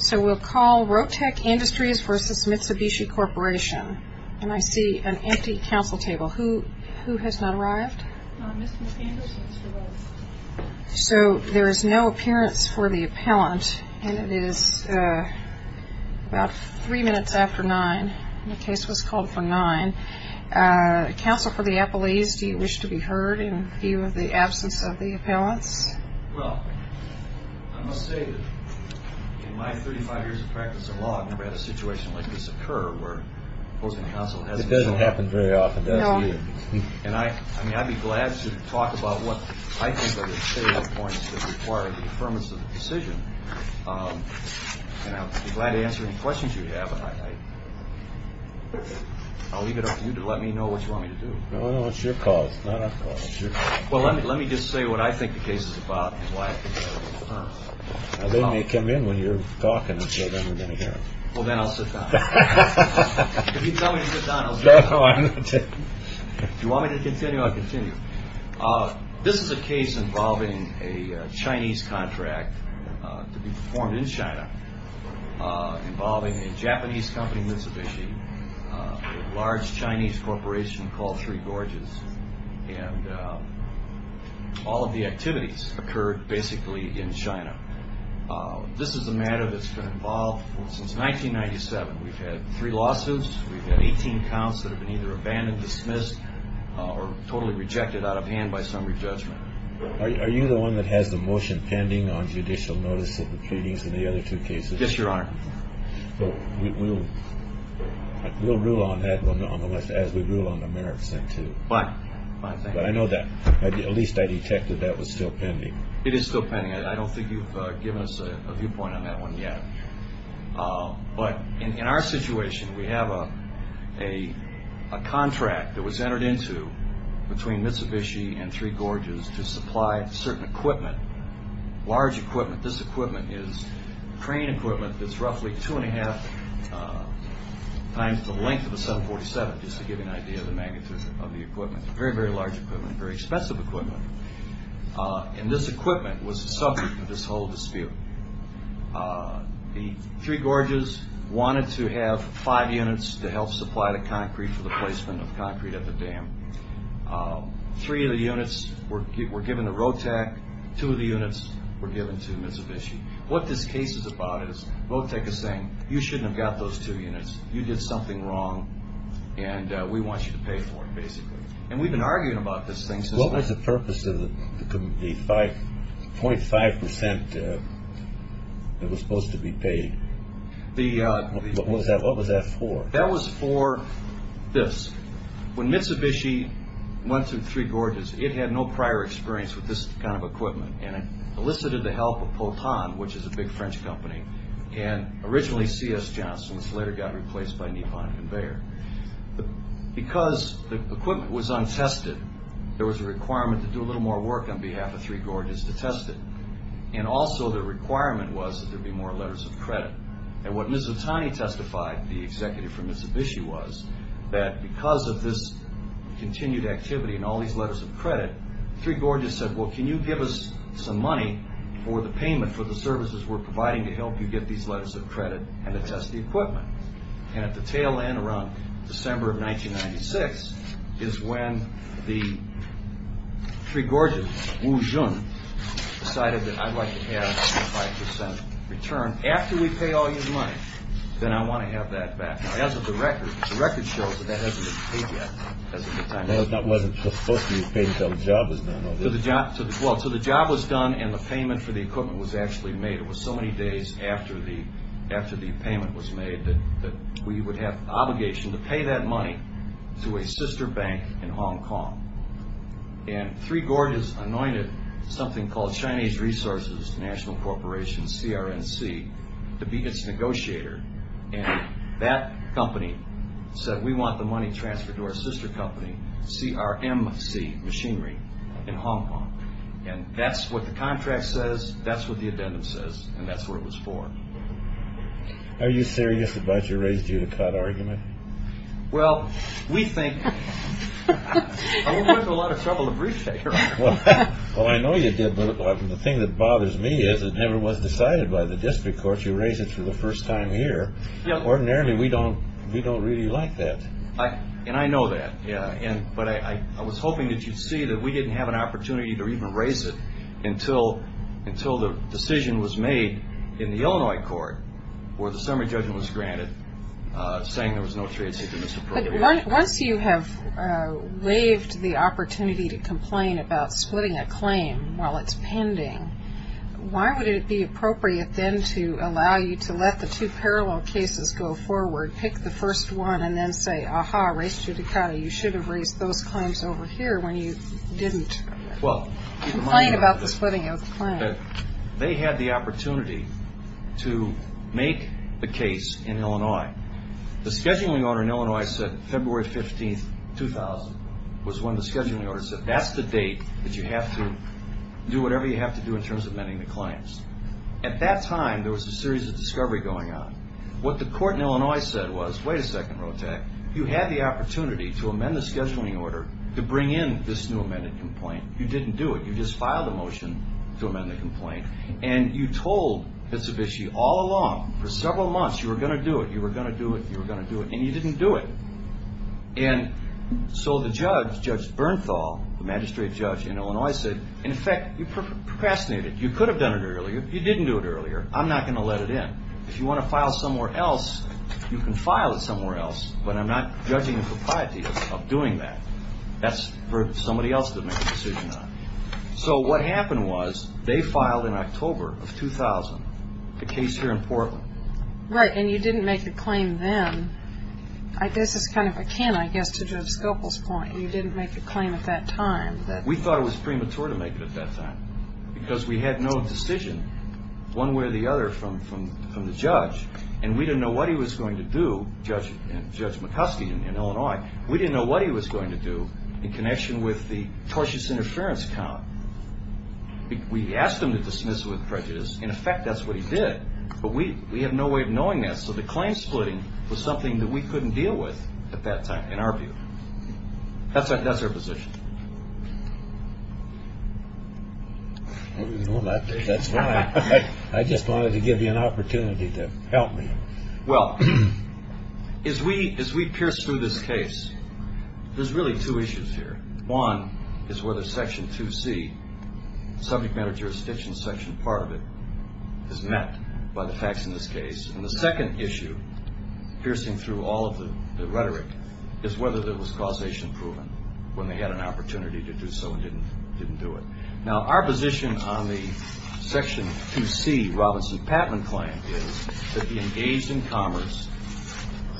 So we'll call Rotec Industries v. Mitsubishi Corp. and I see an empty counsel table. Who has not arrived? So there is no appearance for the appellant and it is about three minutes after nine. The case was called for nine. Counsel for the appellees, do you wish to be heard in view of the absence of the in my 35 years of practice in law, I've never had a situation like this occur where opposing counsel hasn't been heard. It doesn't happen very often, does it? No. And I mean, I'd be glad to talk about what I think are the salient points that require the affirmation of the decision. And I'd be glad to answer any questions you have. And I'll leave it up to you to let me know what you want me to do. No, no, it's your call. It's not our call. It's your call. Well, let me just say what I think the case is about and why I think you have to confirm it. They may come in when you're talking. Well then I'll sit down. If you tell me to sit down, I'll sit down. If you want me to continue, I'll continue. This is a case involving a Chinese contract to be performed in China, involving a Japanese company, Mitsubishi, a large Chinese corporation called Three Gorges. And all of the activities occurred basically in China. This is a matter that's been involved since 1997. We've had three lawsuits. We've had 18 counts that have been either abandoned, dismissed or totally rejected out of hand by summary judgment. Are you the one that has the motion pending on judicial notice of the proceedings in the other two cases? Yes, Your Honor. We'll rule on that as we rule on the merits thing too. But I know that at least I detected that was still pending. It is still pending. I don't think you've given us a viewpoint on that one yet. But in our situation, we have a contract that was entered into between Mitsubishi and Three Gorges to supply certain equipment, large equipment. This equipment is crane equipment that's roughly two and a half times the length of a 747, just to give you an idea of the magnitude of the equipment. Very, very large equipment, very expensive equipment. And this equipment was the subject of this whole dispute. The Three Gorges wanted to have five units to help supply the concrete for the placement of concrete at the dam. Three of the units were given to ROTEC, two of the units were given to Mitsubishi. What this case is about is ROTEC is saying, you shouldn't have got those two units. You did something wrong and we want you to pay for it, basically. And we've been arguing about this thing since. What was the purpose of the 0.5 percent that was supposed to be paid? What was that for? That was for this. When Mitsubishi went to Three Gorges, it had no prior experience with this kind of equipment. And it elicited the help of Poton, which is a big French company, and originally C.S. Johnson, which later got replaced by Nippon Conveyor. Because the equipment was untested, there was a requirement to do a little more work on behalf of Three Gorges to test it. And also the requirement was that there be more letters of credit. And what Mizutani testified, the executive for Mitsubishi, was that because of this continued activity and all these letters of credit, Three Gorges said, well, can you give us some money for the payment for the services we're providing to help you get these letters of credit and to test the equipment? And at the tail end, around December of 1996, is when the Three Gorges, Wu Jun, decided that I'd like to have a 0.5 percent return. After we pay all your money, then I want to have that back. Now, as of the record, the record shows that that hasn't been paid yet, as of the time. That wasn't supposed to be paid until the job was done, was it? Well, until the job was done and the payment for the equipment was actually made. It was so many days after the payment was made that we would have obligation to pay that money to a sister bank in Hong Kong. And Three Gorges anointed something called Chinese Resources National Corporation, CRNC, to be its negotiator. And that company said, we want the money transferred to our sister company, CRMC Machinery, in Hong Kong. And that's what the contract says. That's what the addendum says. And that's what it was for. Are you serious about your raised-judicata argument? Well, we think—I went into a lot of trouble to brief you, Your Honor. Well, I know you did, but the thing that bothers me is it never was decided by the district courts. You raised it for the first time here. Ordinarily, we don't really like that. And I know that, yeah. But I was hoping that you'd see that we didn't have an opportunity to even raise it until the decision was made in the Illinois court, where the summary judgment was granted, saying there was no trade secret misappropriated. But once you have waived the opportunity to complain about splitting a claim while it's pending, why would it be appropriate then to allow you to let the two parallel cases go forward, pick the first one, and then say, aha, raised-judicata, you should have raised those claims over here when you didn't complain about the splitting of the claim? They had the opportunity to make the case in Illinois. The scheduling order in Illinois said February 15, 2000 was when the scheduling order said, that's the date that you have to do whatever you have to do in terms of amending the claims. At that time, there was a series of discovery going on. What the court in Illinois said was, wait a second, Rhotak. You had the opportunity to amend the scheduling order to bring in this new amended complaint. You didn't do it. You just filed a motion to amend the complaint. And you told Mitsubishi all along, for several months, you were going to do it, you were going to do it, you were going to do it, and you didn't do it. And so the judge, Judge Bernthal, the magistrate judge in Illinois said, in effect, you procrastinated. You could have done it earlier. You didn't do it earlier. I'm not going to let it in. If you want to file somewhere else, you can file it somewhere else. But I'm not judging the propriety of doing that. That's for somebody else to make a decision on. So what happened was, they filed in October of 2000 a case here in Portland. Right, and you didn't make a claim then. This is kind of a can, I guess, to Joe Scopel's point. You didn't make a claim at that time. We thought it was premature to make it at that time, because we had no decision, one way or the other, from the judge. And we didn't know what he was going to do, Judge McCuskey in Illinois. We didn't know what he was going to do in connection with the tortious interference count. We asked him to dismiss it with prejudice. In effect, that's what he did. But we had no way of knowing that. So the claim splitting was something that we couldn't deal with at that time, in our view. That's our position. I didn't know about that. That's why I just wanted to give you an opportunity to help me. Well, as we pierce through this case, there's really two issues here. One is whether Section 2C, subject matter jurisdiction section part of it, is met by the facts in this case. And the second issue, piercing through all of the rhetoric, is whether there was causation proven when they had an opportunity to do so and didn't do it. Now, our position on the Section 2C Robinson-Patman claim is that the engaged in commerce,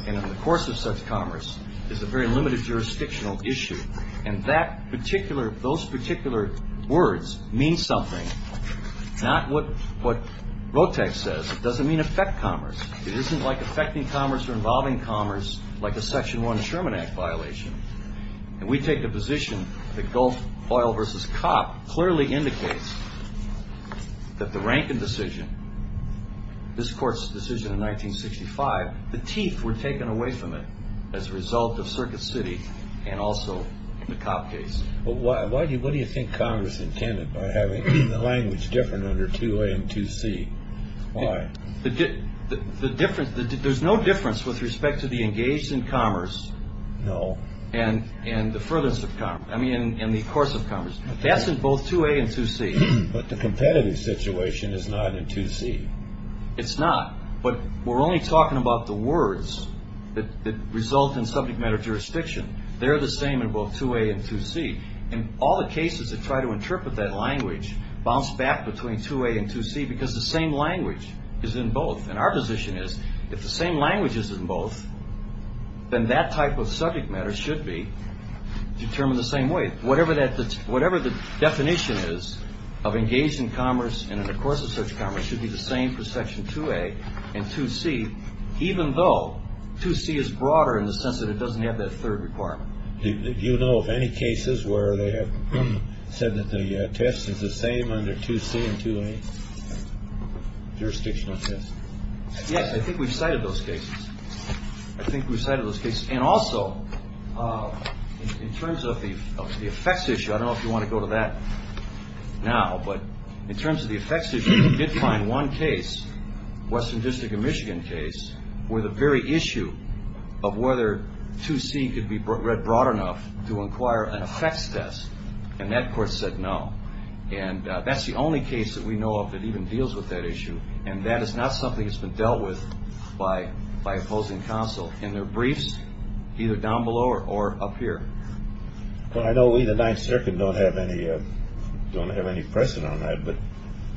and in the course of such commerce, is a very limited jurisdictional issue. And those particular words mean something, not what Rotex says. It doesn't mean affect commerce. It isn't like affecting commerce or involving commerce, like a Section 1 Sherman Act violation. And we take the position that Gulf Oil versus Copp clearly indicates that the Rankin decision, this court's decision in 1965, the teeth were taken away from it as a result of Circuit City, and also the Copp case. But what do you think Congress intended by having the language different under 2A and 2C? Why? There's no difference with respect to the engaged in commerce. No. And the furthest of commerce. I mean, in the course of commerce. That's in both 2A and 2C. But the competitive situation is not in 2C. It's not. But we're only talking about the words that result in subject matter jurisdiction. They're the same in both 2A and 2C. And all the cases that try to interpret that language bounce back between 2A and 2C because the same language is in both. And our position is, if the same language is in both, then that type of subject matter should be determined the same way. Whatever the definition is of engaged in commerce and in the course of such commerce should be the same for Section 2A and 2C, even though 2C is broader in the sense that it doesn't have that third requirement. You know of any cases where they have said that the test is the same under 2C and 2A jurisdictional test? Yes, I think we've cited those cases. I think we've cited those cases. And also, in terms of the effects issue, I don't know if you want to go to that now, but in terms of the effects issue, we did find one case, Western District of Michigan case, where the very issue of whether 2C could be read broad enough to inquire an effects test. And that court said no. And that's the only case that we know of that even deals with that issue. And that is not something that's been dealt with by opposing counsel. In their briefs, either down below or up here. Well, I know we, the Ninth Circuit, don't have any precedent on that, but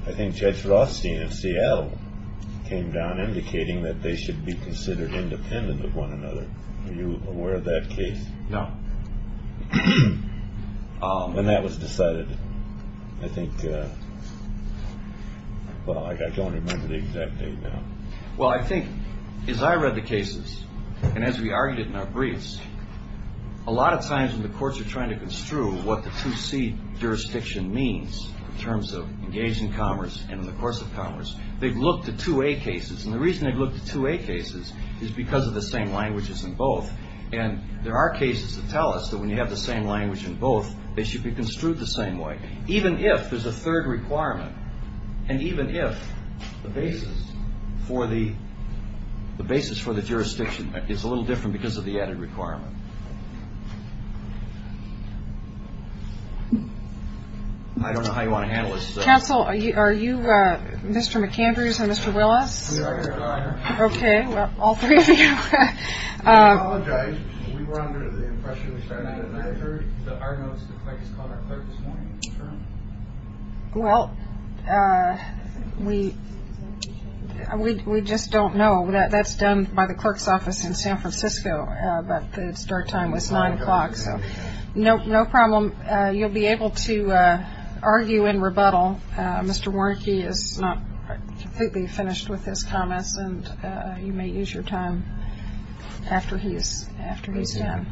I think Judge Rothstein and C.L. came down indicating that they should be considered independent of one another. Are you aware of that case? No. When that was decided, I think, well, I don't remember the exact date now. Well, I think, as I read the cases, and as we argued it in our briefs, a lot of times when the courts are trying to construe what the 2C jurisdiction means in terms of engaging commerce and in the course of commerce, they've looked at 2A cases. And the reason they've looked at 2A cases is because of the same languages in both. And there are cases that tell us that when you have the same language in both, they should be construed the same way, even if there's a third requirement. And even if the basis for the jurisdiction is a little different because of the added requirement. I don't know how you want to handle this. Counsel, are you Mr. McAndrews and Mr. Willis? We are here, Your Honor. OK, well, all three of you. We apologize. We were under the impression we started at 930. But I noticed the clerk is called our clerk this morning. Is that true? Well, we just don't know. That's done by the clerk's office in San Francisco. But the start time was 9 o'clock. So no problem. You'll be able to argue in rebuttal. Mr. Warnke is not completely finished with his comments. And you may use your time after he's done.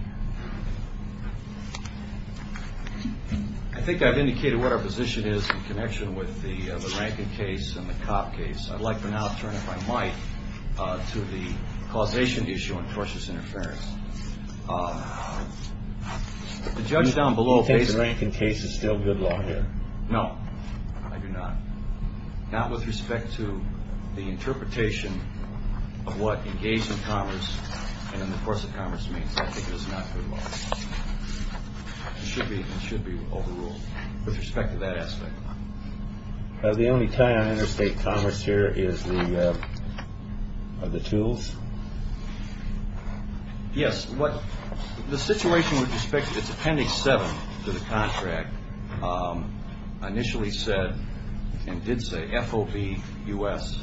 I think I've indicated what our position is in connection with the Rankin case and the Cobb case. I'd like for now to turn, if I might, to the causation issue on tortious interference. The judge down below says the Rankin case is still good law here. No, I do not. Not with respect to the interpretation of what engaged in commerce and in the course of commerce means. I think it is not good law. It should be overruled with respect to that aspect. The only tie on interstate commerce here is the tools. Yes. The situation with respect to its appendix 7 to the contract initially said, and did say, FOB US.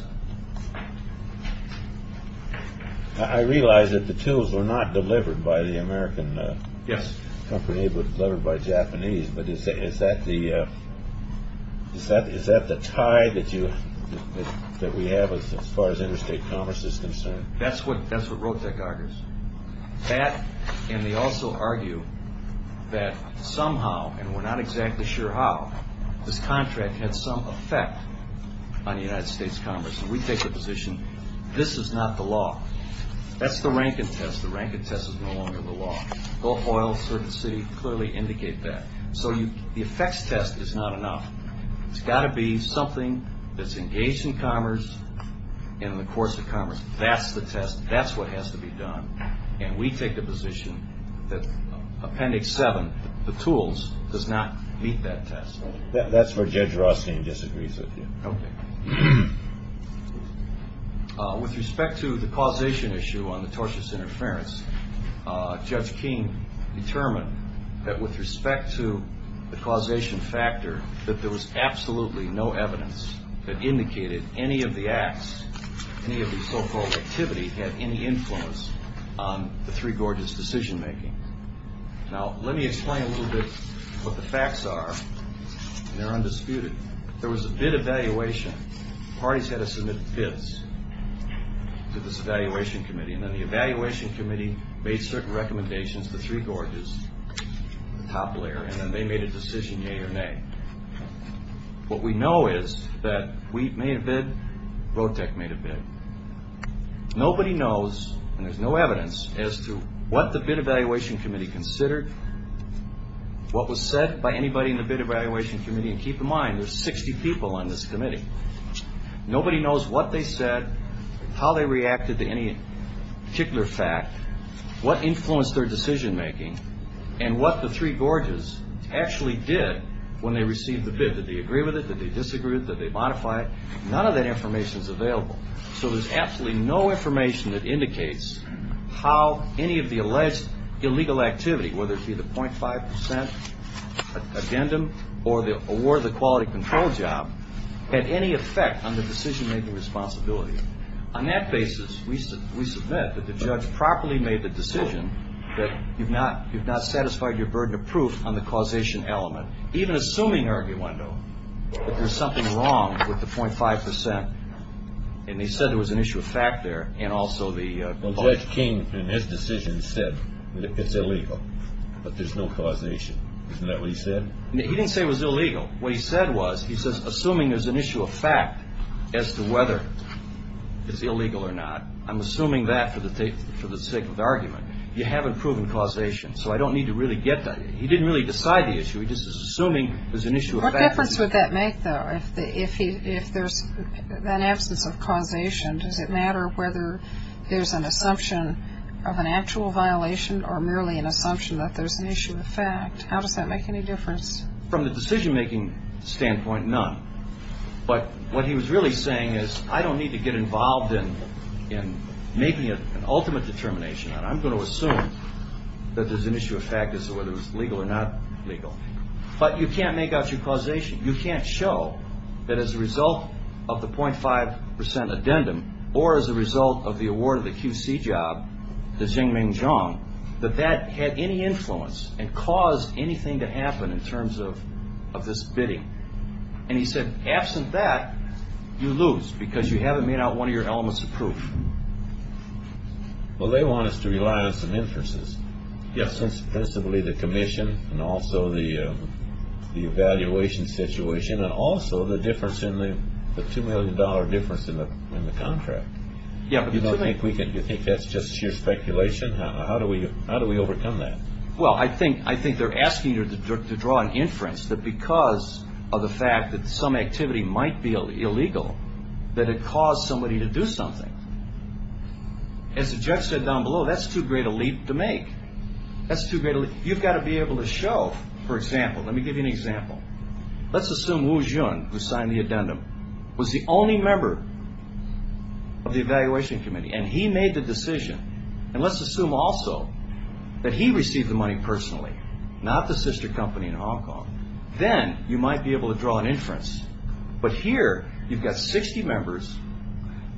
I realize that the tools were not delivered by the American company, but delivered by Japanese. But is that the tie that we have as far as interstate commerce is concerned? That's what Rotek argues. And they also argue that somehow, and we're not exactly sure how, this contract had some effect on United States commerce. And we take the position, this is not the law. That's the Rankin test. The Rankin test is no longer the law. Gulf Oil, Circuit City clearly indicate that. So the effects test is not enough. It's got to be something that's engaged in commerce and in the course of commerce. That's the test. That's what has to be done. And we take the position that appendix 7, the tools, does not meet that test. That's where Judge Rothstein disagrees with you. OK. With respect to the causation issue on the tortious interference, Judge King determined that with respect to the causation factor, that there was absolutely no evidence that indicated any of the acts, any of the so-called activity, had any influence on the Three Gorges decision making. Now, let me explain a little bit what the facts are. They're undisputed. There was a bid evaluation. Parties had to submit bids to this evaluation committee. And then the evaluation committee made certain recommendations for Three Gorges, the top layer. And then they made a decision, yea or nay. What we know is that Wheat made a bid, Rotec made a bid. Nobody knows, and there's no evidence, as to what the bid evaluation committee considered, what was said by anybody in the bid evaluation committee. And keep in mind, there's 60 people on this committee. Nobody knows what they said, how they reacted to any particular fact, what influenced their decision making, and what the Three Gorges actually did when they received the bid. Did they agree with it? Did they disagree with it? Did they modify it? None of that information is available. So there's absolutely no information that legal activity, whether it be the 0.5% addendum, or the award of the quality control job, had any effect on the decision making responsibility. On that basis, we submit that the judge properly made the decision that you've not satisfied your burden of proof on the causation element, even assuming, arguendo, that there's something wrong with the 0.5%. And he said there was an issue of fact there, and also the Judge King, in his decision, said that it's illegal, but there's no causation. Isn't that what he said? He didn't say it was illegal. What he said was, he says, assuming there's an issue of fact as to whether it's illegal or not. I'm assuming that for the sake of the argument. You haven't proven causation, so I don't need to really get that. He didn't really decide the issue. He just is assuming there's an issue of fact. What difference would that make, though, if there's an absence of causation? Does it matter whether there's an assumption of an actual violation, or merely an assumption that there's an issue of fact? How does that make any difference? From the decision making standpoint, none. But what he was really saying is, I don't need to get involved in making an ultimate determination on it. I'm going to assume that there's an issue of fact as to whether it's legal or not legal. But you can't make out your causation. You can't show that as a result of the 0.5% addendum, or as a result of the award of the QC job to Xingming Zhang, that that had any influence and caused anything to happen in terms of this bidding. And he said, absent that, you lose, because you haven't made out one of your elements of proof. Well, they want us to rely on some inferences. Yes, principally the commission, and also the evaluation situation, and also the difference in the $2 million difference in the contract. You think that's just sheer speculation? How do we overcome that? Well, I think they're asking you to draw an inference that because of the fact that some activity might be illegal, that it caused somebody to do something. As the judge said down below, that's too great a leap to make. That's too great a leap. You've got to be able to show, for example, let me give you an example. Let's assume Wu Jun, who signed the addendum, was the only member of the evaluation committee, and he made the decision. And let's assume also that he received the money personally, not the sister company in Hong Kong. Then you might be able to draw an inference. But here, you've got 60 members.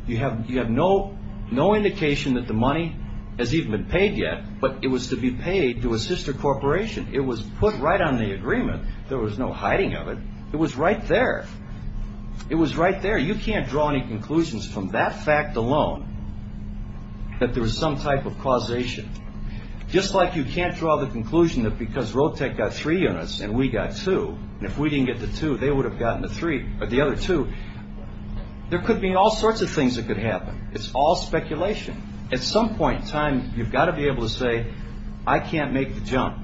You have no indication that the money has even been paid yet, but it was to be paid to a sister corporation. It was put right on the agreement. There was no hiding of it. It was right there. It was right there. You can't draw any conclusions from that fact alone that there was some type of causation. Just like you can't draw the conclusion that because Rotec got three units and we got two, and if we didn't get the two, they would have gotten the three, or the other two. There could be all sorts of things that could happen. It's all speculation. At some point in time, you've got to be able to say, I can't make the jump.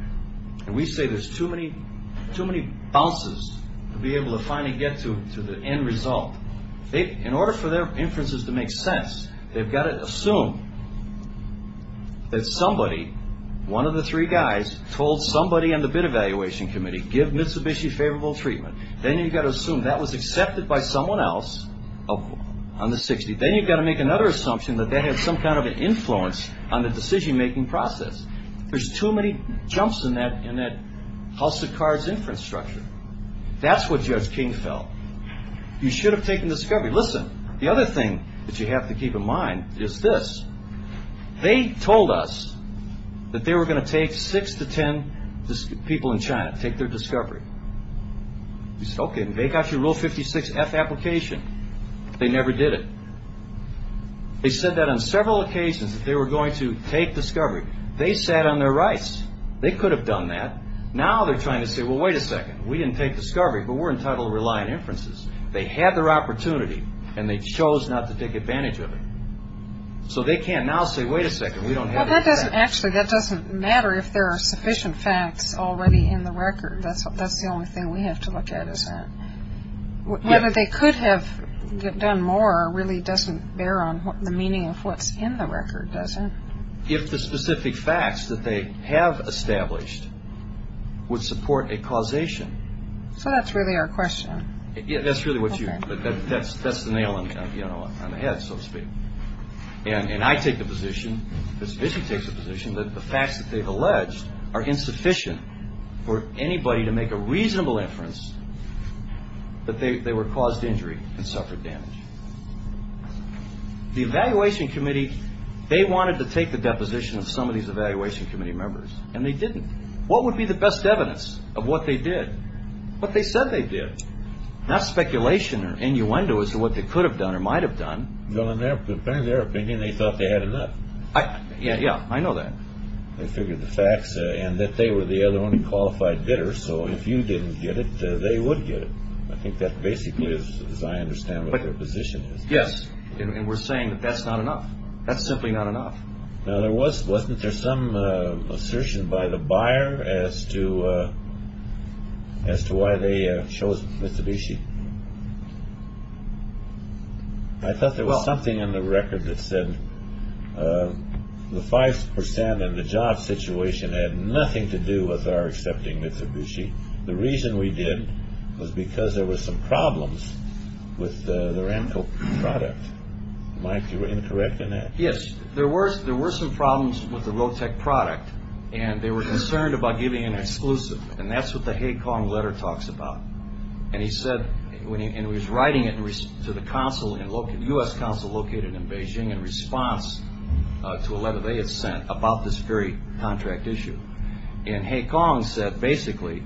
And we say there's too many bounces to be able to finally get to the end result. In order for their inferences to make sense, they've got to assume that somebody, one of the three guys, told somebody on the bid evaluation committee, give Mitsubishi favorable treatment. Then you've got to assume that was accepted by someone else on the 60. Then you've got to make another assumption that they had some kind of an influence on the decision-making process. There's too many jumps in that house of cards inference structure. That's what Judge King felt. You should have taken discovery. Listen, the other thing that you have to keep in mind is this. They told us that they were going to take six to 10 people in China, take their discovery. We said, OK, and they got your Rule 56F application. They never did it. They said that on several occasions that they were going to take discovery. They sat on their rights. They could have done that. Now they're trying to say, well, wait a second. We didn't take discovery, but we're entitled to rely on inferences. They had their opportunity, and they chose not to take advantage of it. So they can't now say, wait a second. We don't have that. Actually, that doesn't matter if there are sufficient facts already in the record. That's the only thing we have to look at, is that. Whether they could have done more really doesn't bear on the meaning of what's in the record, does it? If the specific facts that they have established would support a causation. So that's really our question. That's really what you. That's the nail on the head, so to speak. And I take the position, the Submission takes the position, that the facts that they've alleged are insufficient for anybody to make a reasonable inference that they were caused injury and suffered damage. The Evaluation Committee, they wanted to take the deposition of some of these Evaluation Committee members, and they didn't. What would be the best evidence of what they did? What they said they did. Not speculation or innuendo as to what they could have done or might have done. Well, in their opinion, they thought they had enough. Yeah, I know that. They figured the facts, and that they were the only qualified bidder. So if you didn't get it, they would get it. I think that basically is, as I understand, what their position is. Yes, and we're saying that that's not enough. That's simply not enough. Now, wasn't there some assertion by the buyer as to why they chose Mitsubishi? I thought there was something in the record that said the 5% and the job situation had nothing to do with our accepting Mitsubishi. The reason we did was because there were some problems with the Ramco product. Mike, you were incorrect in that? Yes, there were some problems with the Rotec product, and they were concerned about giving an exclusive. And that's what the Haig-Kong letter talks about. And he said, and he was writing it to the U.S. consul located in Beijing in response to a letter they had sent about this very contract issue. And Haig-Kong said, basically,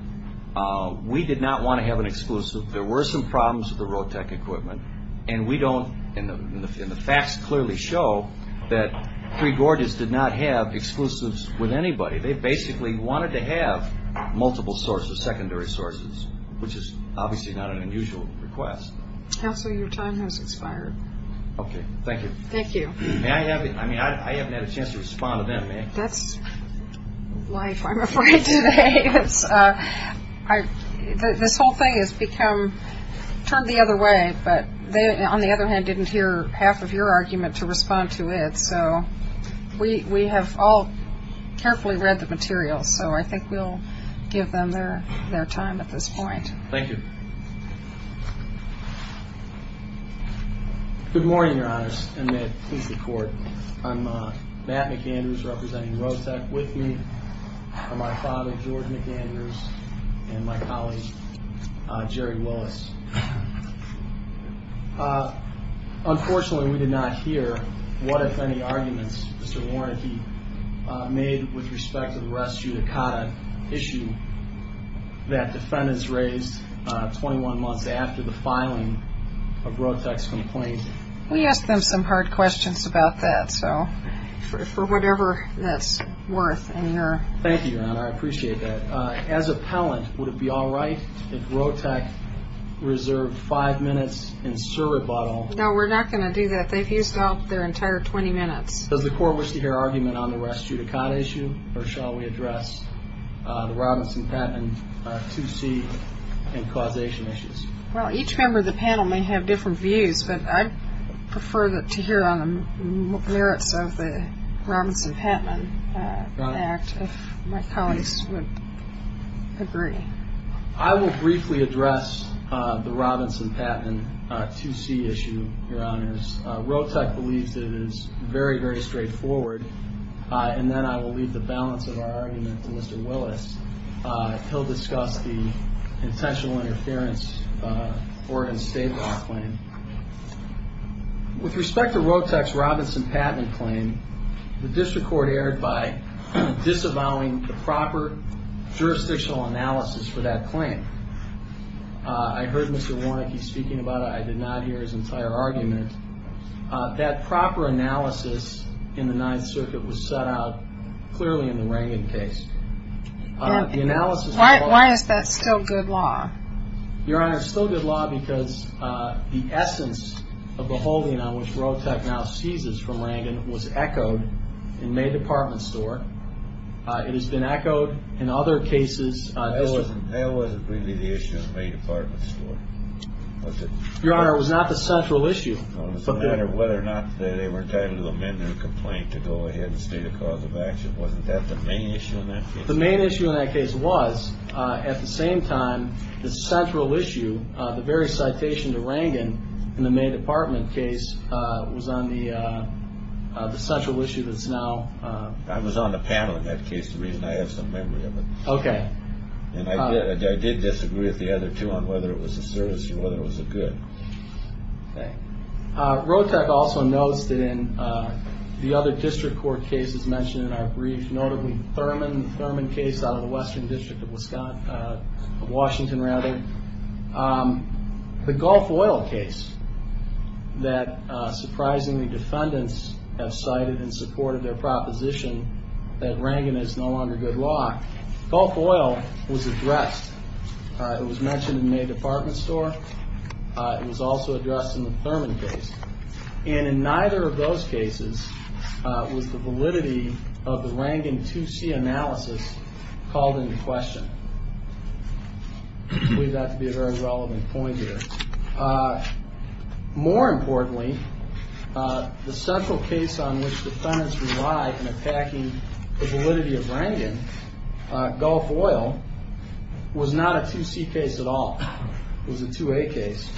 we did not want to have an exclusive. There were some problems with the Rotec equipment. And we don't, and the facts clearly show that Three Gorges did not have exclusives with anybody. They basically wanted to have multiple sources, secondary sources, which is obviously not an unusual request. Counsel, your time has expired. Okay, thank you. Thank you. May I have, I mean, I haven't had a chance to respond to them. That's life, I'm afraid, today. This whole thing has become, turned the other way. But they, on the other hand, didn't hear half of your argument to respond to it. So we have all carefully read the materials. So I think we'll give them their time at this point. Thank you. Good morning, Your Honors, and may it please the Court. I'm Matt McAndrews, representing Rotec. With me are my father, George McAndrews, and my colleague, Jerry Willis. Unfortunately, we did not hear what, if any, arguments Mr. Warneke made with respect to the rest judicata issue that defendants raised 21 months after the filing of Rotec's complaint. We asked them some hard questions about that, so for whatever that's worth in your. Thank you, Your Honor, I appreciate that. As appellant, would it be all right if Rotec reserved five minutes in serve rebuttal? No, we're not going to do that. They've used up their entire 20 minutes. Does the Court wish to hear argument on the rest judicata issue, or shall we address the Robinson-Pattman 2C and causation issues? Well, each member of the panel may have different views, but I'd prefer to hear on the merits of the Robinson-Pattman Act if my colleagues would agree. I will briefly address the Robinson-Pattman 2C issue, Your Honors. Rotec believes that it is very, very straightforward, and then I will leave the balance of our argument to Mr. Willis. He'll discuss the intentional interference Oregon State law claim. With respect to Rotec's Robinson-Pattman claim, the District Court erred by disavowing the proper jurisdictional analysis for that claim. I heard Mr. Warnecke speaking about it. I did not hear his entire argument. That proper analysis in the Ninth Circuit was set out clearly in the Rangan case. Why is that still good law? Your Honor, it's still good law because the essence of the holding on which Rotec now seizes from Rangan was echoed in May Department Store. It has been echoed in other cases. That wasn't really the issue in May Department Store. Your Honor, it was not the central issue. It was a matter of whether or not they were entitled to amend their complaint to go ahead and state a cause of action. Wasn't that the main issue in that case? The main issue in that case was, at the same time, the central issue, the very citation to Rangan in the May Department case was on the central issue that's now. I was on the panel in that case. The reason I have some memory of it. Okay. I did disagree with the other two on whether it was a service or whether it was a good. Okay. Rotec also notes that in the other district court cases mentioned in our brief, notably Thurman, the Thurman case out of the Western District of Washington, the Gulf Oil case that surprisingly defendants have cited and supported their proposition that Rangan is no longer good law. Gulf Oil was addressed. It was mentioned in May Department Store. It was also addressed in the Thurman case. And in neither of those cases was the validity of the Rangan 2C analysis called into question. I believe that to be a very relevant point here. More importantly, the central case on which defendants relied in attacking the validity of Rangan, Gulf Oil, was not a 2C case at all. It was a 2A case.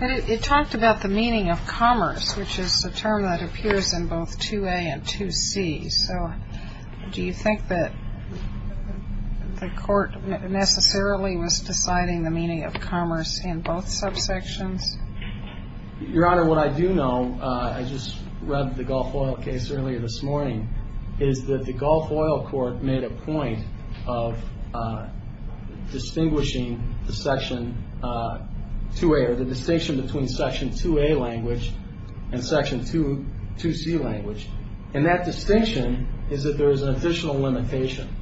It talked about the meaning of commerce, which is a term that appears in both 2A and 2C. So do you think that the court necessarily was deciding the meaning of commerce in both subsections? Your Honor, what I do know, I just read the Gulf Oil case earlier this morning, is that the Gulf Oil court made a point of distinguishing the section 2A, or the distinction between section 2A language and section 2C language. And that distinction is that there is an additional limitation.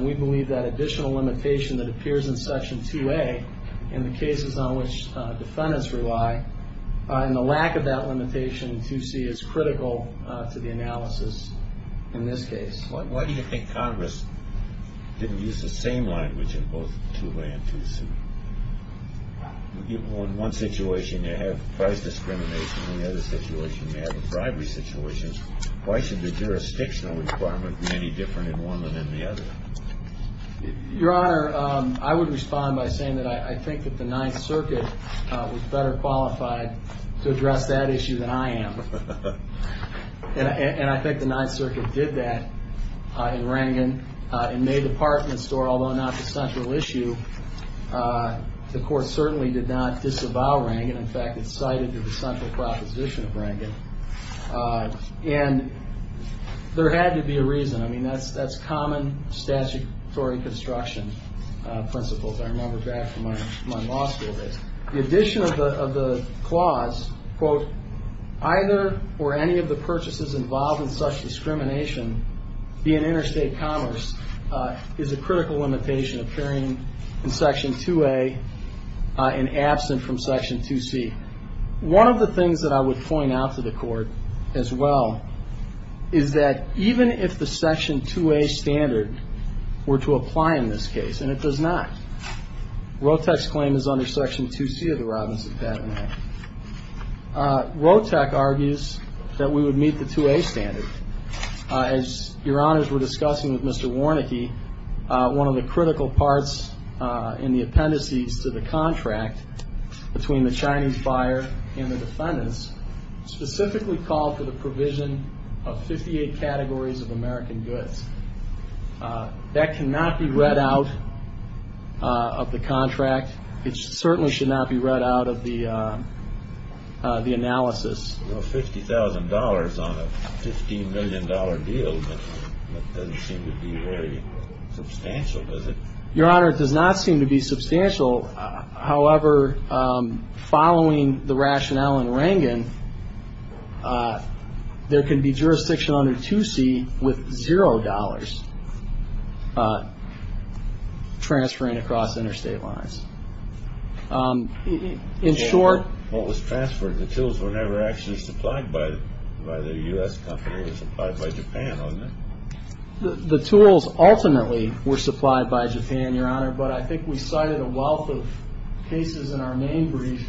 We believe that additional limitation that appears in section 2A in the cases on which defendants rely, and the lack of that limitation in 2C is critical to the analysis in this case. Why do you think Congress didn't use the same language in both 2A and 2C? In one situation, you have price discrimination. In the other situation, you have a bribery situation. Why should the jurisdictional requirement be any different in one than in the other? Your Honor, I would respond by saying that I think that the Ninth Circuit was better qualified to address that issue than I am. And I think the Ninth Circuit did that in Rangan. In May, the department store, although not the central issue, the court certainly did not disavow Rangan. In fact, it cited the central proposition of Rangan. And there had to be a reason. I mean, that's common statutory construction principles. I remember back from my law school days. The addition of the clause, quote, either or any of the purchases involved in such discrimination, be it interstate commerce, is a critical limitation appearing in section 2A and absent from section 2C. One of the things that I would point out to the court as well is that even if the section 2A standard were to apply in this case, and it does not. ROTEC's claim is under section 2C of the Robinson Patent Act. ROTEC argues that we would meet the 2A standard. As Your Honors were discussing with Mr. Warnicke, one of the critical parts in the appendices to the contract between the Chinese buyer and the defendants specifically called for the provision of 58 categories of American goods. That cannot be read out of the contract. It certainly should not be read out of the analysis. Well, $50,000 on a $15 million deal doesn't seem to be very substantial, does it? Your Honor, it does not seem to be substantial. However, following the rationale in Rangan, there can be jurisdiction under 2C with $0 transferring across interstate lines. In short- What was transferred? The tools were never actually supplied by the U.S. company. It was supplied by Japan, wasn't it? The tools ultimately were supplied by Japan, Your Honor, but I think we cited a wealth of cases in our main brief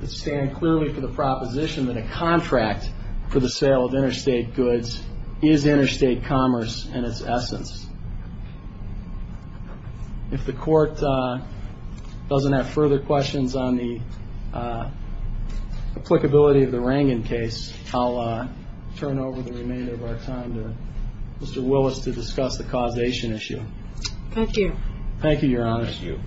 that stand clearly for the proposition that a contract for the sale of interstate goods is interstate commerce in its essence. If the Court doesn't have further questions on the applicability of the Rangan case, I'll turn over the remainder of our time to Mr. Willis to discuss the causation issue. Thank you. Thank you, Your Honor. Thank you.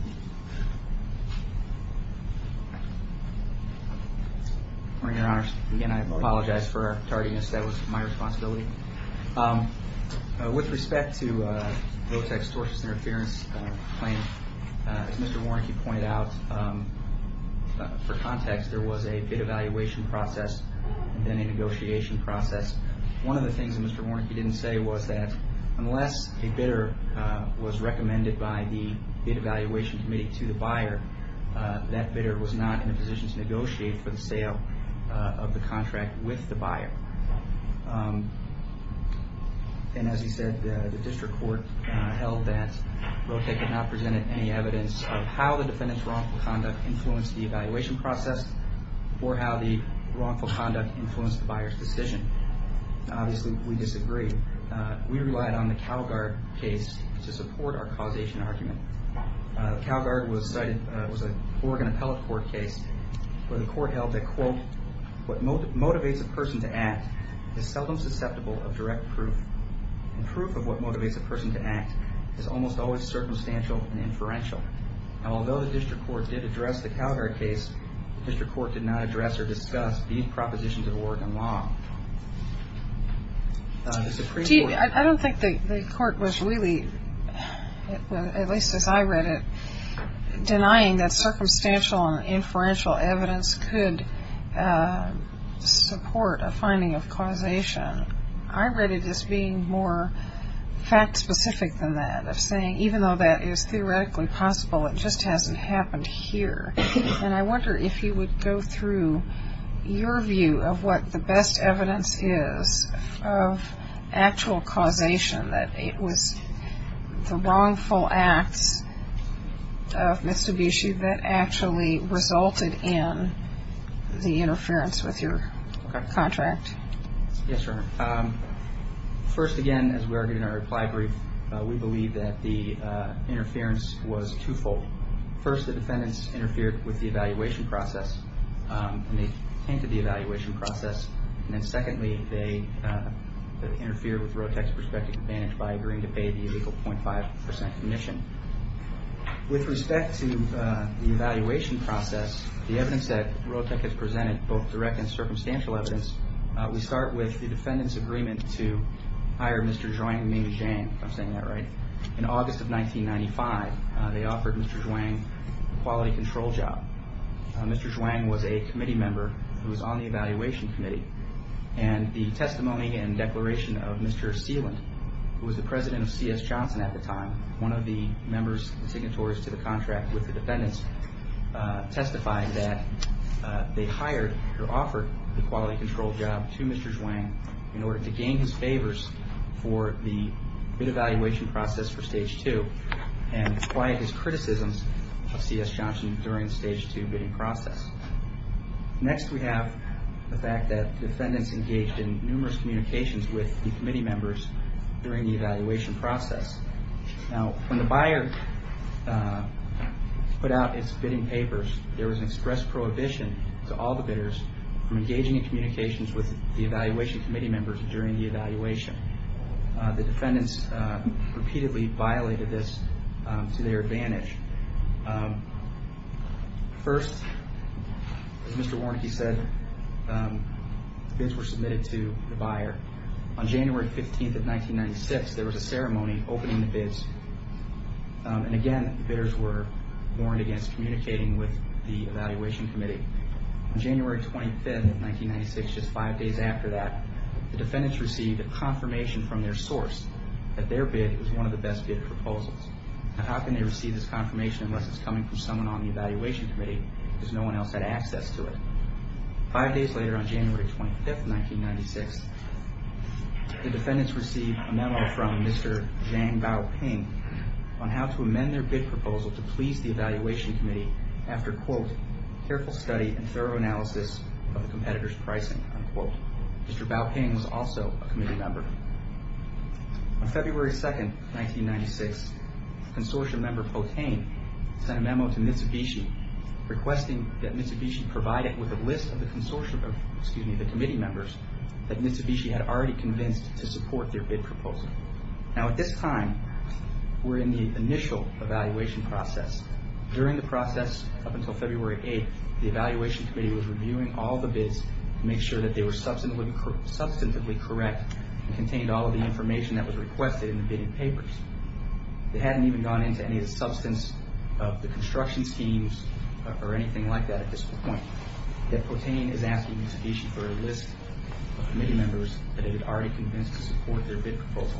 Morning, Your Honor. Again, I apologize for tardiness. That was my responsibility. With respect to Lotech's tortious interference claim, as Mr. Warnke pointed out, for context, there was a bid evaluation process and then a negotiation process. One of the things that Mr. Warnke didn't say was that unless a bidder was recommended by the bid evaluation committee to the buyer, that bidder was not in a position to negotiate for the sale of the contract with the buyer. And as he said, the district court held that Lotech had not presented any evidence of how the defendant's wrongful conduct influenced the evaluation process or how the wrongful conduct influenced the buyer's decision. Obviously, we disagreed. We relied on the Calguard case to support our causation argument. Calguard was a Oregon appellate court case where the court held that, quote, what motivates a person to act is seldom susceptible of direct proof, and proof of what motivates a person to act is almost always circumstantial and inferential. And although the district court did address the Calguard case, the district court did not address or discuss these propositions of Oregon law. I don't think the court was really, at least as I read it, denying that circumstantial and inferential evidence could support a finding of causation. I read it as being more fact-specific than that, of saying even though that is theoretically possible, it just hasn't happened here. And I wonder if you would go through your view of what the best evidence is of actual causation, that it was the wrongful acts of Mitsubishi that actually resulted in the interference with your contract. Yes, Your Honor. First, again, as we argued in our reply brief, we believe that the interference was twofold. First, the defendants interfered with the evaluation process, and they tainted the evaluation process. And then secondly, they interfered with ROTEC's prospective advantage by agreeing to pay the illegal 0.5 percent commission. With respect to the evaluation process, the evidence that ROTEC has presented, both direct and circumstantial evidence, we start with the defendant's agreement to hire Mr. Zhuang Ming Zhang, if I'm saying that right. In August of 1995, they offered Mr. Zhuang a quality control job. Mr. Zhuang was a committee member who was on the evaluation committee, and the testimony and declaration of Mr. Seeland, who was the president of C.S. Johnson at the time, one of the members and signatories to the contract with the defendants, testified that they hired or offered the quality control job to Mr. Zhuang in order to gain his favors for the bid evaluation process for Stage 2 and quiet his criticisms of C.S. Johnson during the Stage 2 bidding process. Next, we have the fact that defendants engaged in numerous communications with the committee members during the evaluation process. Now, when the buyer put out its bidding papers, there was an express prohibition to all the bidders from engaging in communications with the evaluation committee members during the evaluation. The defendants repeatedly violated this to their advantage. First, as Mr. Warnke said, bids were submitted to the buyer. On January 15th of 1996, there was a ceremony opening the bids, and again, bidders were warned against communicating with the evaluation committee. On January 25th of 1996, just five days after that, the defendants received a confirmation from their source that their bid was one of the best bid proposals. Now, how can they receive this confirmation unless it's coming from someone on the evaluation committee because no one else had access to it? Five days later, on January 25th of 1996, the defendants received a memo from Mr. Zhang Baoping on how to amend their bid proposal to please the evaluation committee after, quote, careful study and thorough analysis of the competitor's pricing, unquote. Mr. Baoping was also a committee member. On February 2nd, 1996, consortium member Potain sent a memo to Mitsubishi requesting that Mitsubishi provide it with a list of the committee members that Mitsubishi had already convinced to support their bid proposal. Now, at this time, we're in the initial evaluation process. During the process up until February 8th, the evaluation committee was reviewing all the bids to make sure that they were substantively correct and contained all of the information that was requested in the bidding papers. They hadn't even gone into any of the substance of the construction schemes or anything like that at this point. Yet Potain is asking Mitsubishi for a list of committee members that they had already convinced to support their bid proposal.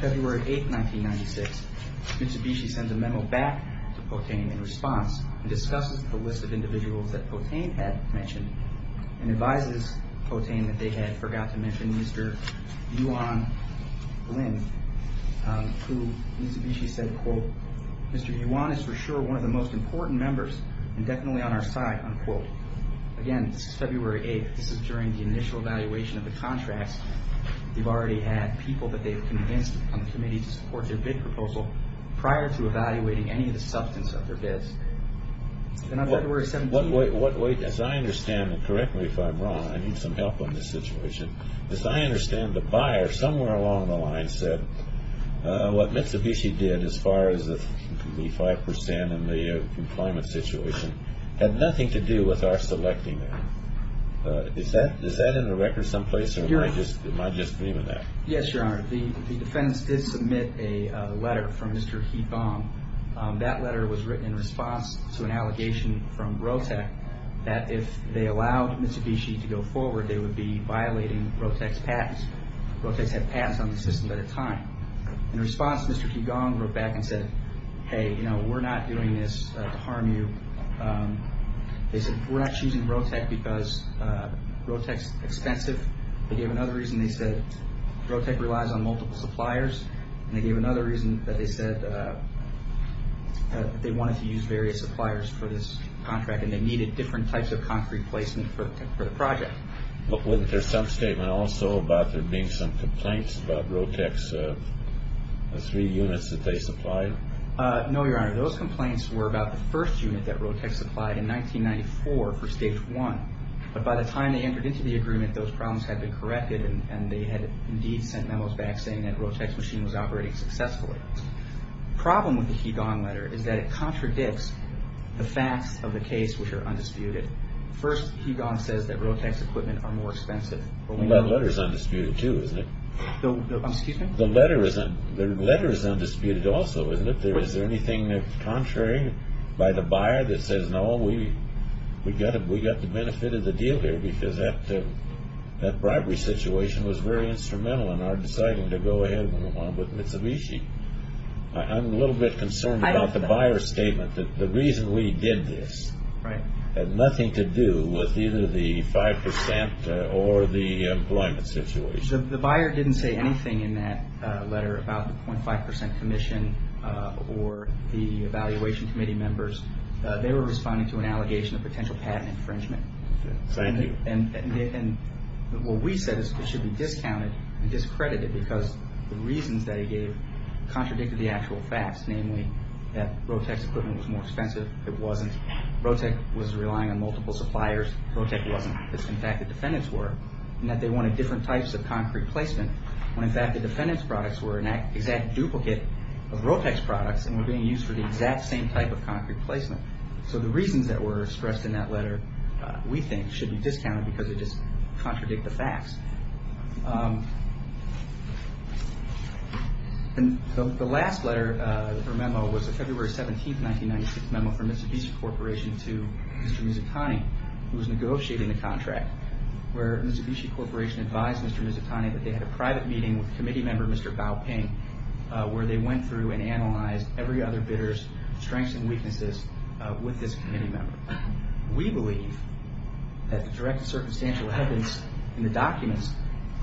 February 8th, 1996, Mitsubishi sends a memo back to Potain in response and discusses the list of individuals that Potain had mentioned and advises Potain that they had forgot to mention Mr. Yuan Lin, who Mitsubishi said, quote, Mr. Yuan is for sure one of the most important members and definitely on our side, unquote. Again, this is February 8th. This is during the initial evaluation of the contracts. They've already had people that they've convinced on the committee to support their bid proposal prior to evaluating any of the substance of their bids. And on February 17th... Wait, as I understand it correctly, if I'm wrong, I need some help on this situation. As I understand it, the buyer somewhere along the line said what Mitsubishi did as far as the 5% and the employment situation had nothing to do with our selecting them. Is that in the record someplace or am I just dreaming that? Yes, Your Honor. The defendants did submit a letter from Mr. Heatbomb. That letter was written in response to an allegation from Rotec that if they allowed Mitsubishi to go forward, they would be violating Rotec's patents. Rotec's had patents on the system at the time. In response, Mr. Heatbomb wrote back and said, hey, you know, we're not doing this to harm you. They said we're not choosing Rotec because Rotec's expensive. They gave another reason. They said Rotec relies on multiple suppliers. They gave another reason. They said they wanted to use various suppliers for this contract and they needed different types of concrete placement for the project. Wasn't there some statement also about there being some complaints about Rotec's three units that they supplied? No, Your Honor. Those complaints were about the first unit that Rotec supplied in 1994 for Stage 1. But by the time they entered into the agreement, those problems had been corrected, and they had indeed sent memos back saying that Rotec's machine was operating successfully. The problem with the Hegon letter is that it contradicts the facts of the case, which are undisputed. First, Hegon says that Rotec's equipment are more expensive. That letter is undisputed too, isn't it? Excuse me? The letter is undisputed also, isn't it? Is there anything contrary by the buyer that says, No, we got the benefit of the deal here because that bribery situation was very instrumental in our deciding to go ahead with Mitsubishi. I'm a little bit concerned about the buyer's statement that the reason we did this had nothing to do with either the 5% or the employment situation. The buyer didn't say anything in that letter about the 0.5% commission or the evaluation committee members. They were responding to an allegation of potential patent infringement. Thank you. And what we said is it should be discounted and discredited because the reasons that he gave contradicted the actual facts, namely that Rotec's equipment was more expensive. It wasn't. Rotec was relying on multiple suppliers. Rotec wasn't. It's the fact that defendants were, and that they wanted different types of concrete placement when, in fact, the defendant's products were an exact duplicate of Rotec's products and were being used for the exact same type of concrete placement. So the reasons that were expressed in that letter, we think, should be discounted because they just contradict the facts. The last letter or memo was a February 17, 1996, memo from Mitsubishi Corporation to Mr. Mizutani, who was negotiating the contract, where Mitsubishi Corporation advised Mr. Mizutani that they had a private meeting with committee member, Mr. Bao Ping, where they went through and analyzed every other bidder's strengths and weaknesses with this committee member. We believe that the direct and circumstantial evidence in the documents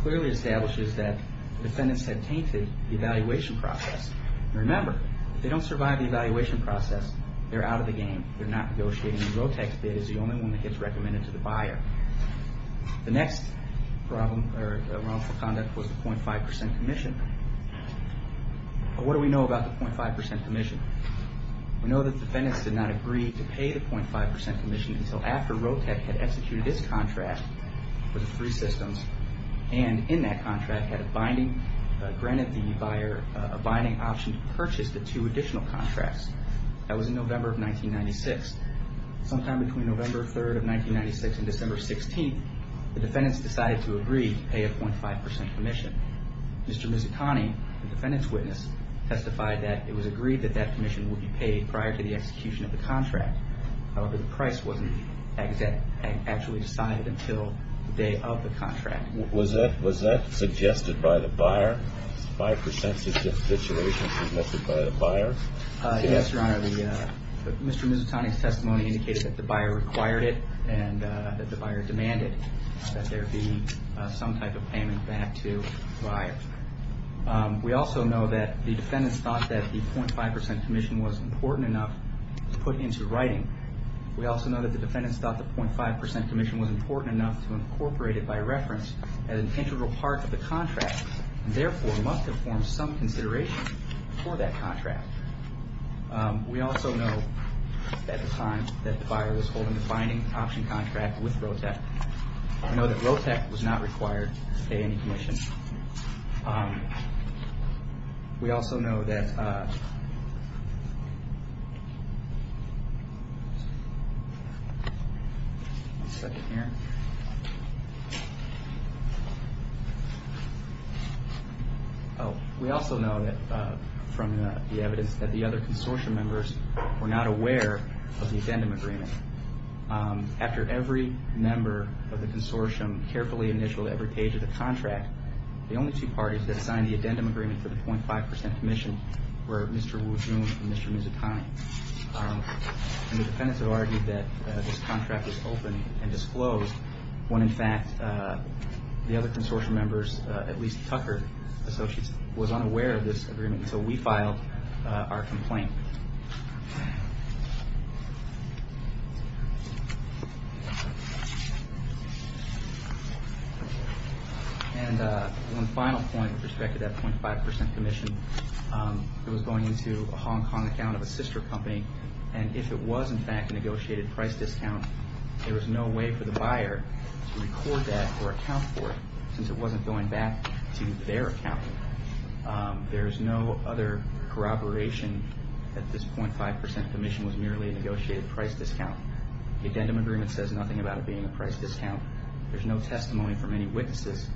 clearly establishes that defendants had tainted the evaluation process. Remember, if they don't survive the evaluation process, they're out of the game. They're not negotiating. The next wrongful conduct was the 0.5% commission. What do we know about the 0.5% commission? We know that defendants did not agree to pay the 0.5% commission until after Rotec had executed its contract for the three systems and in that contract had granted the buyer a binding option to purchase the two additional contracts. That was in November of 1996. Sometime between November 3rd of 1996 and December 16th, the defendants decided to agree to pay a 0.5% commission. Mr. Mizutani, the defendant's witness, testified that it was agreed that that commission would be paid prior to the execution of the contract. However, the price wasn't actually decided until the day of the contract. Was that suggested by the buyer? 5% is the situation suggested by the buyer? Yes, Your Honor. Mr. Mizutani's testimony indicated that the buyer required it and that the buyer demanded that there be some type of payment back to the buyer. We also know that the defendants thought that the 0.5% commission was important enough to put into writing. We also know that the defendants thought the 0.5% commission was important enough to incorporate it by reference as an integral part of the contract and therefore must have formed some consideration for that contract. We also know at the time that the buyer was holding the binding option contract with ROTEC, we know that ROTEC was not required to pay any commission. We also know that from the evidence that the other consortium members were not aware of the addendum agreement. After every member of the consortium carefully initialed every page of the contract, the only two parties that signed the addendum agreement for the 0.5% commission were Mr. Wujoon and Mr. Mizutani. The defendants have argued that this contract was open and disclosed when in fact the other consortium members, at least Tucker Associates, was unaware of this agreement until we filed our complaint. And one final point with respect to that 0.5% commission, it was going into a Hong Kong account of a sister company and if it was in fact a negotiated price discount, there was no way for the buyer to record that or account for it since it wasn't going back to their account. There is no other corroboration that this 0.5% commission was merely a negotiated price discount. The addendum agreement says nothing about it being a price discount. There's no testimony from any witnesses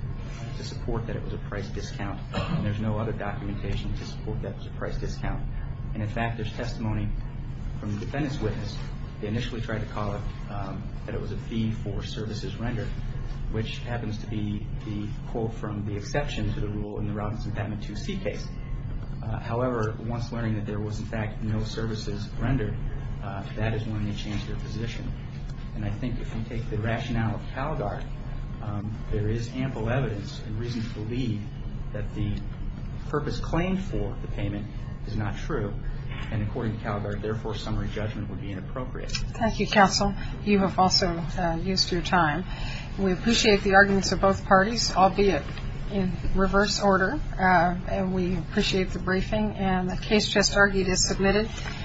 to support that it was a price discount and there's no other documentation to support that it was a price discount. And in fact, there's testimony from the defendant's witness. They initially tried to call it that it was a fee for services rendered, which happens to be the quote from the exception to the rule in the Robinson Patent 2C case. However, once learning that there was in fact no services rendered, that is when they changed their position. And I think if you take the rationale of CalGuard, there is ample evidence and reason to believe that the purpose claimed for the payment is not true and according to CalGuard, therefore, summary judgment would be inappropriate. Thank you, counsel. You have also used your time. We appreciate the arguments of both parties, albeit in reverse order. We appreciate the briefing and the case just argued is submitted.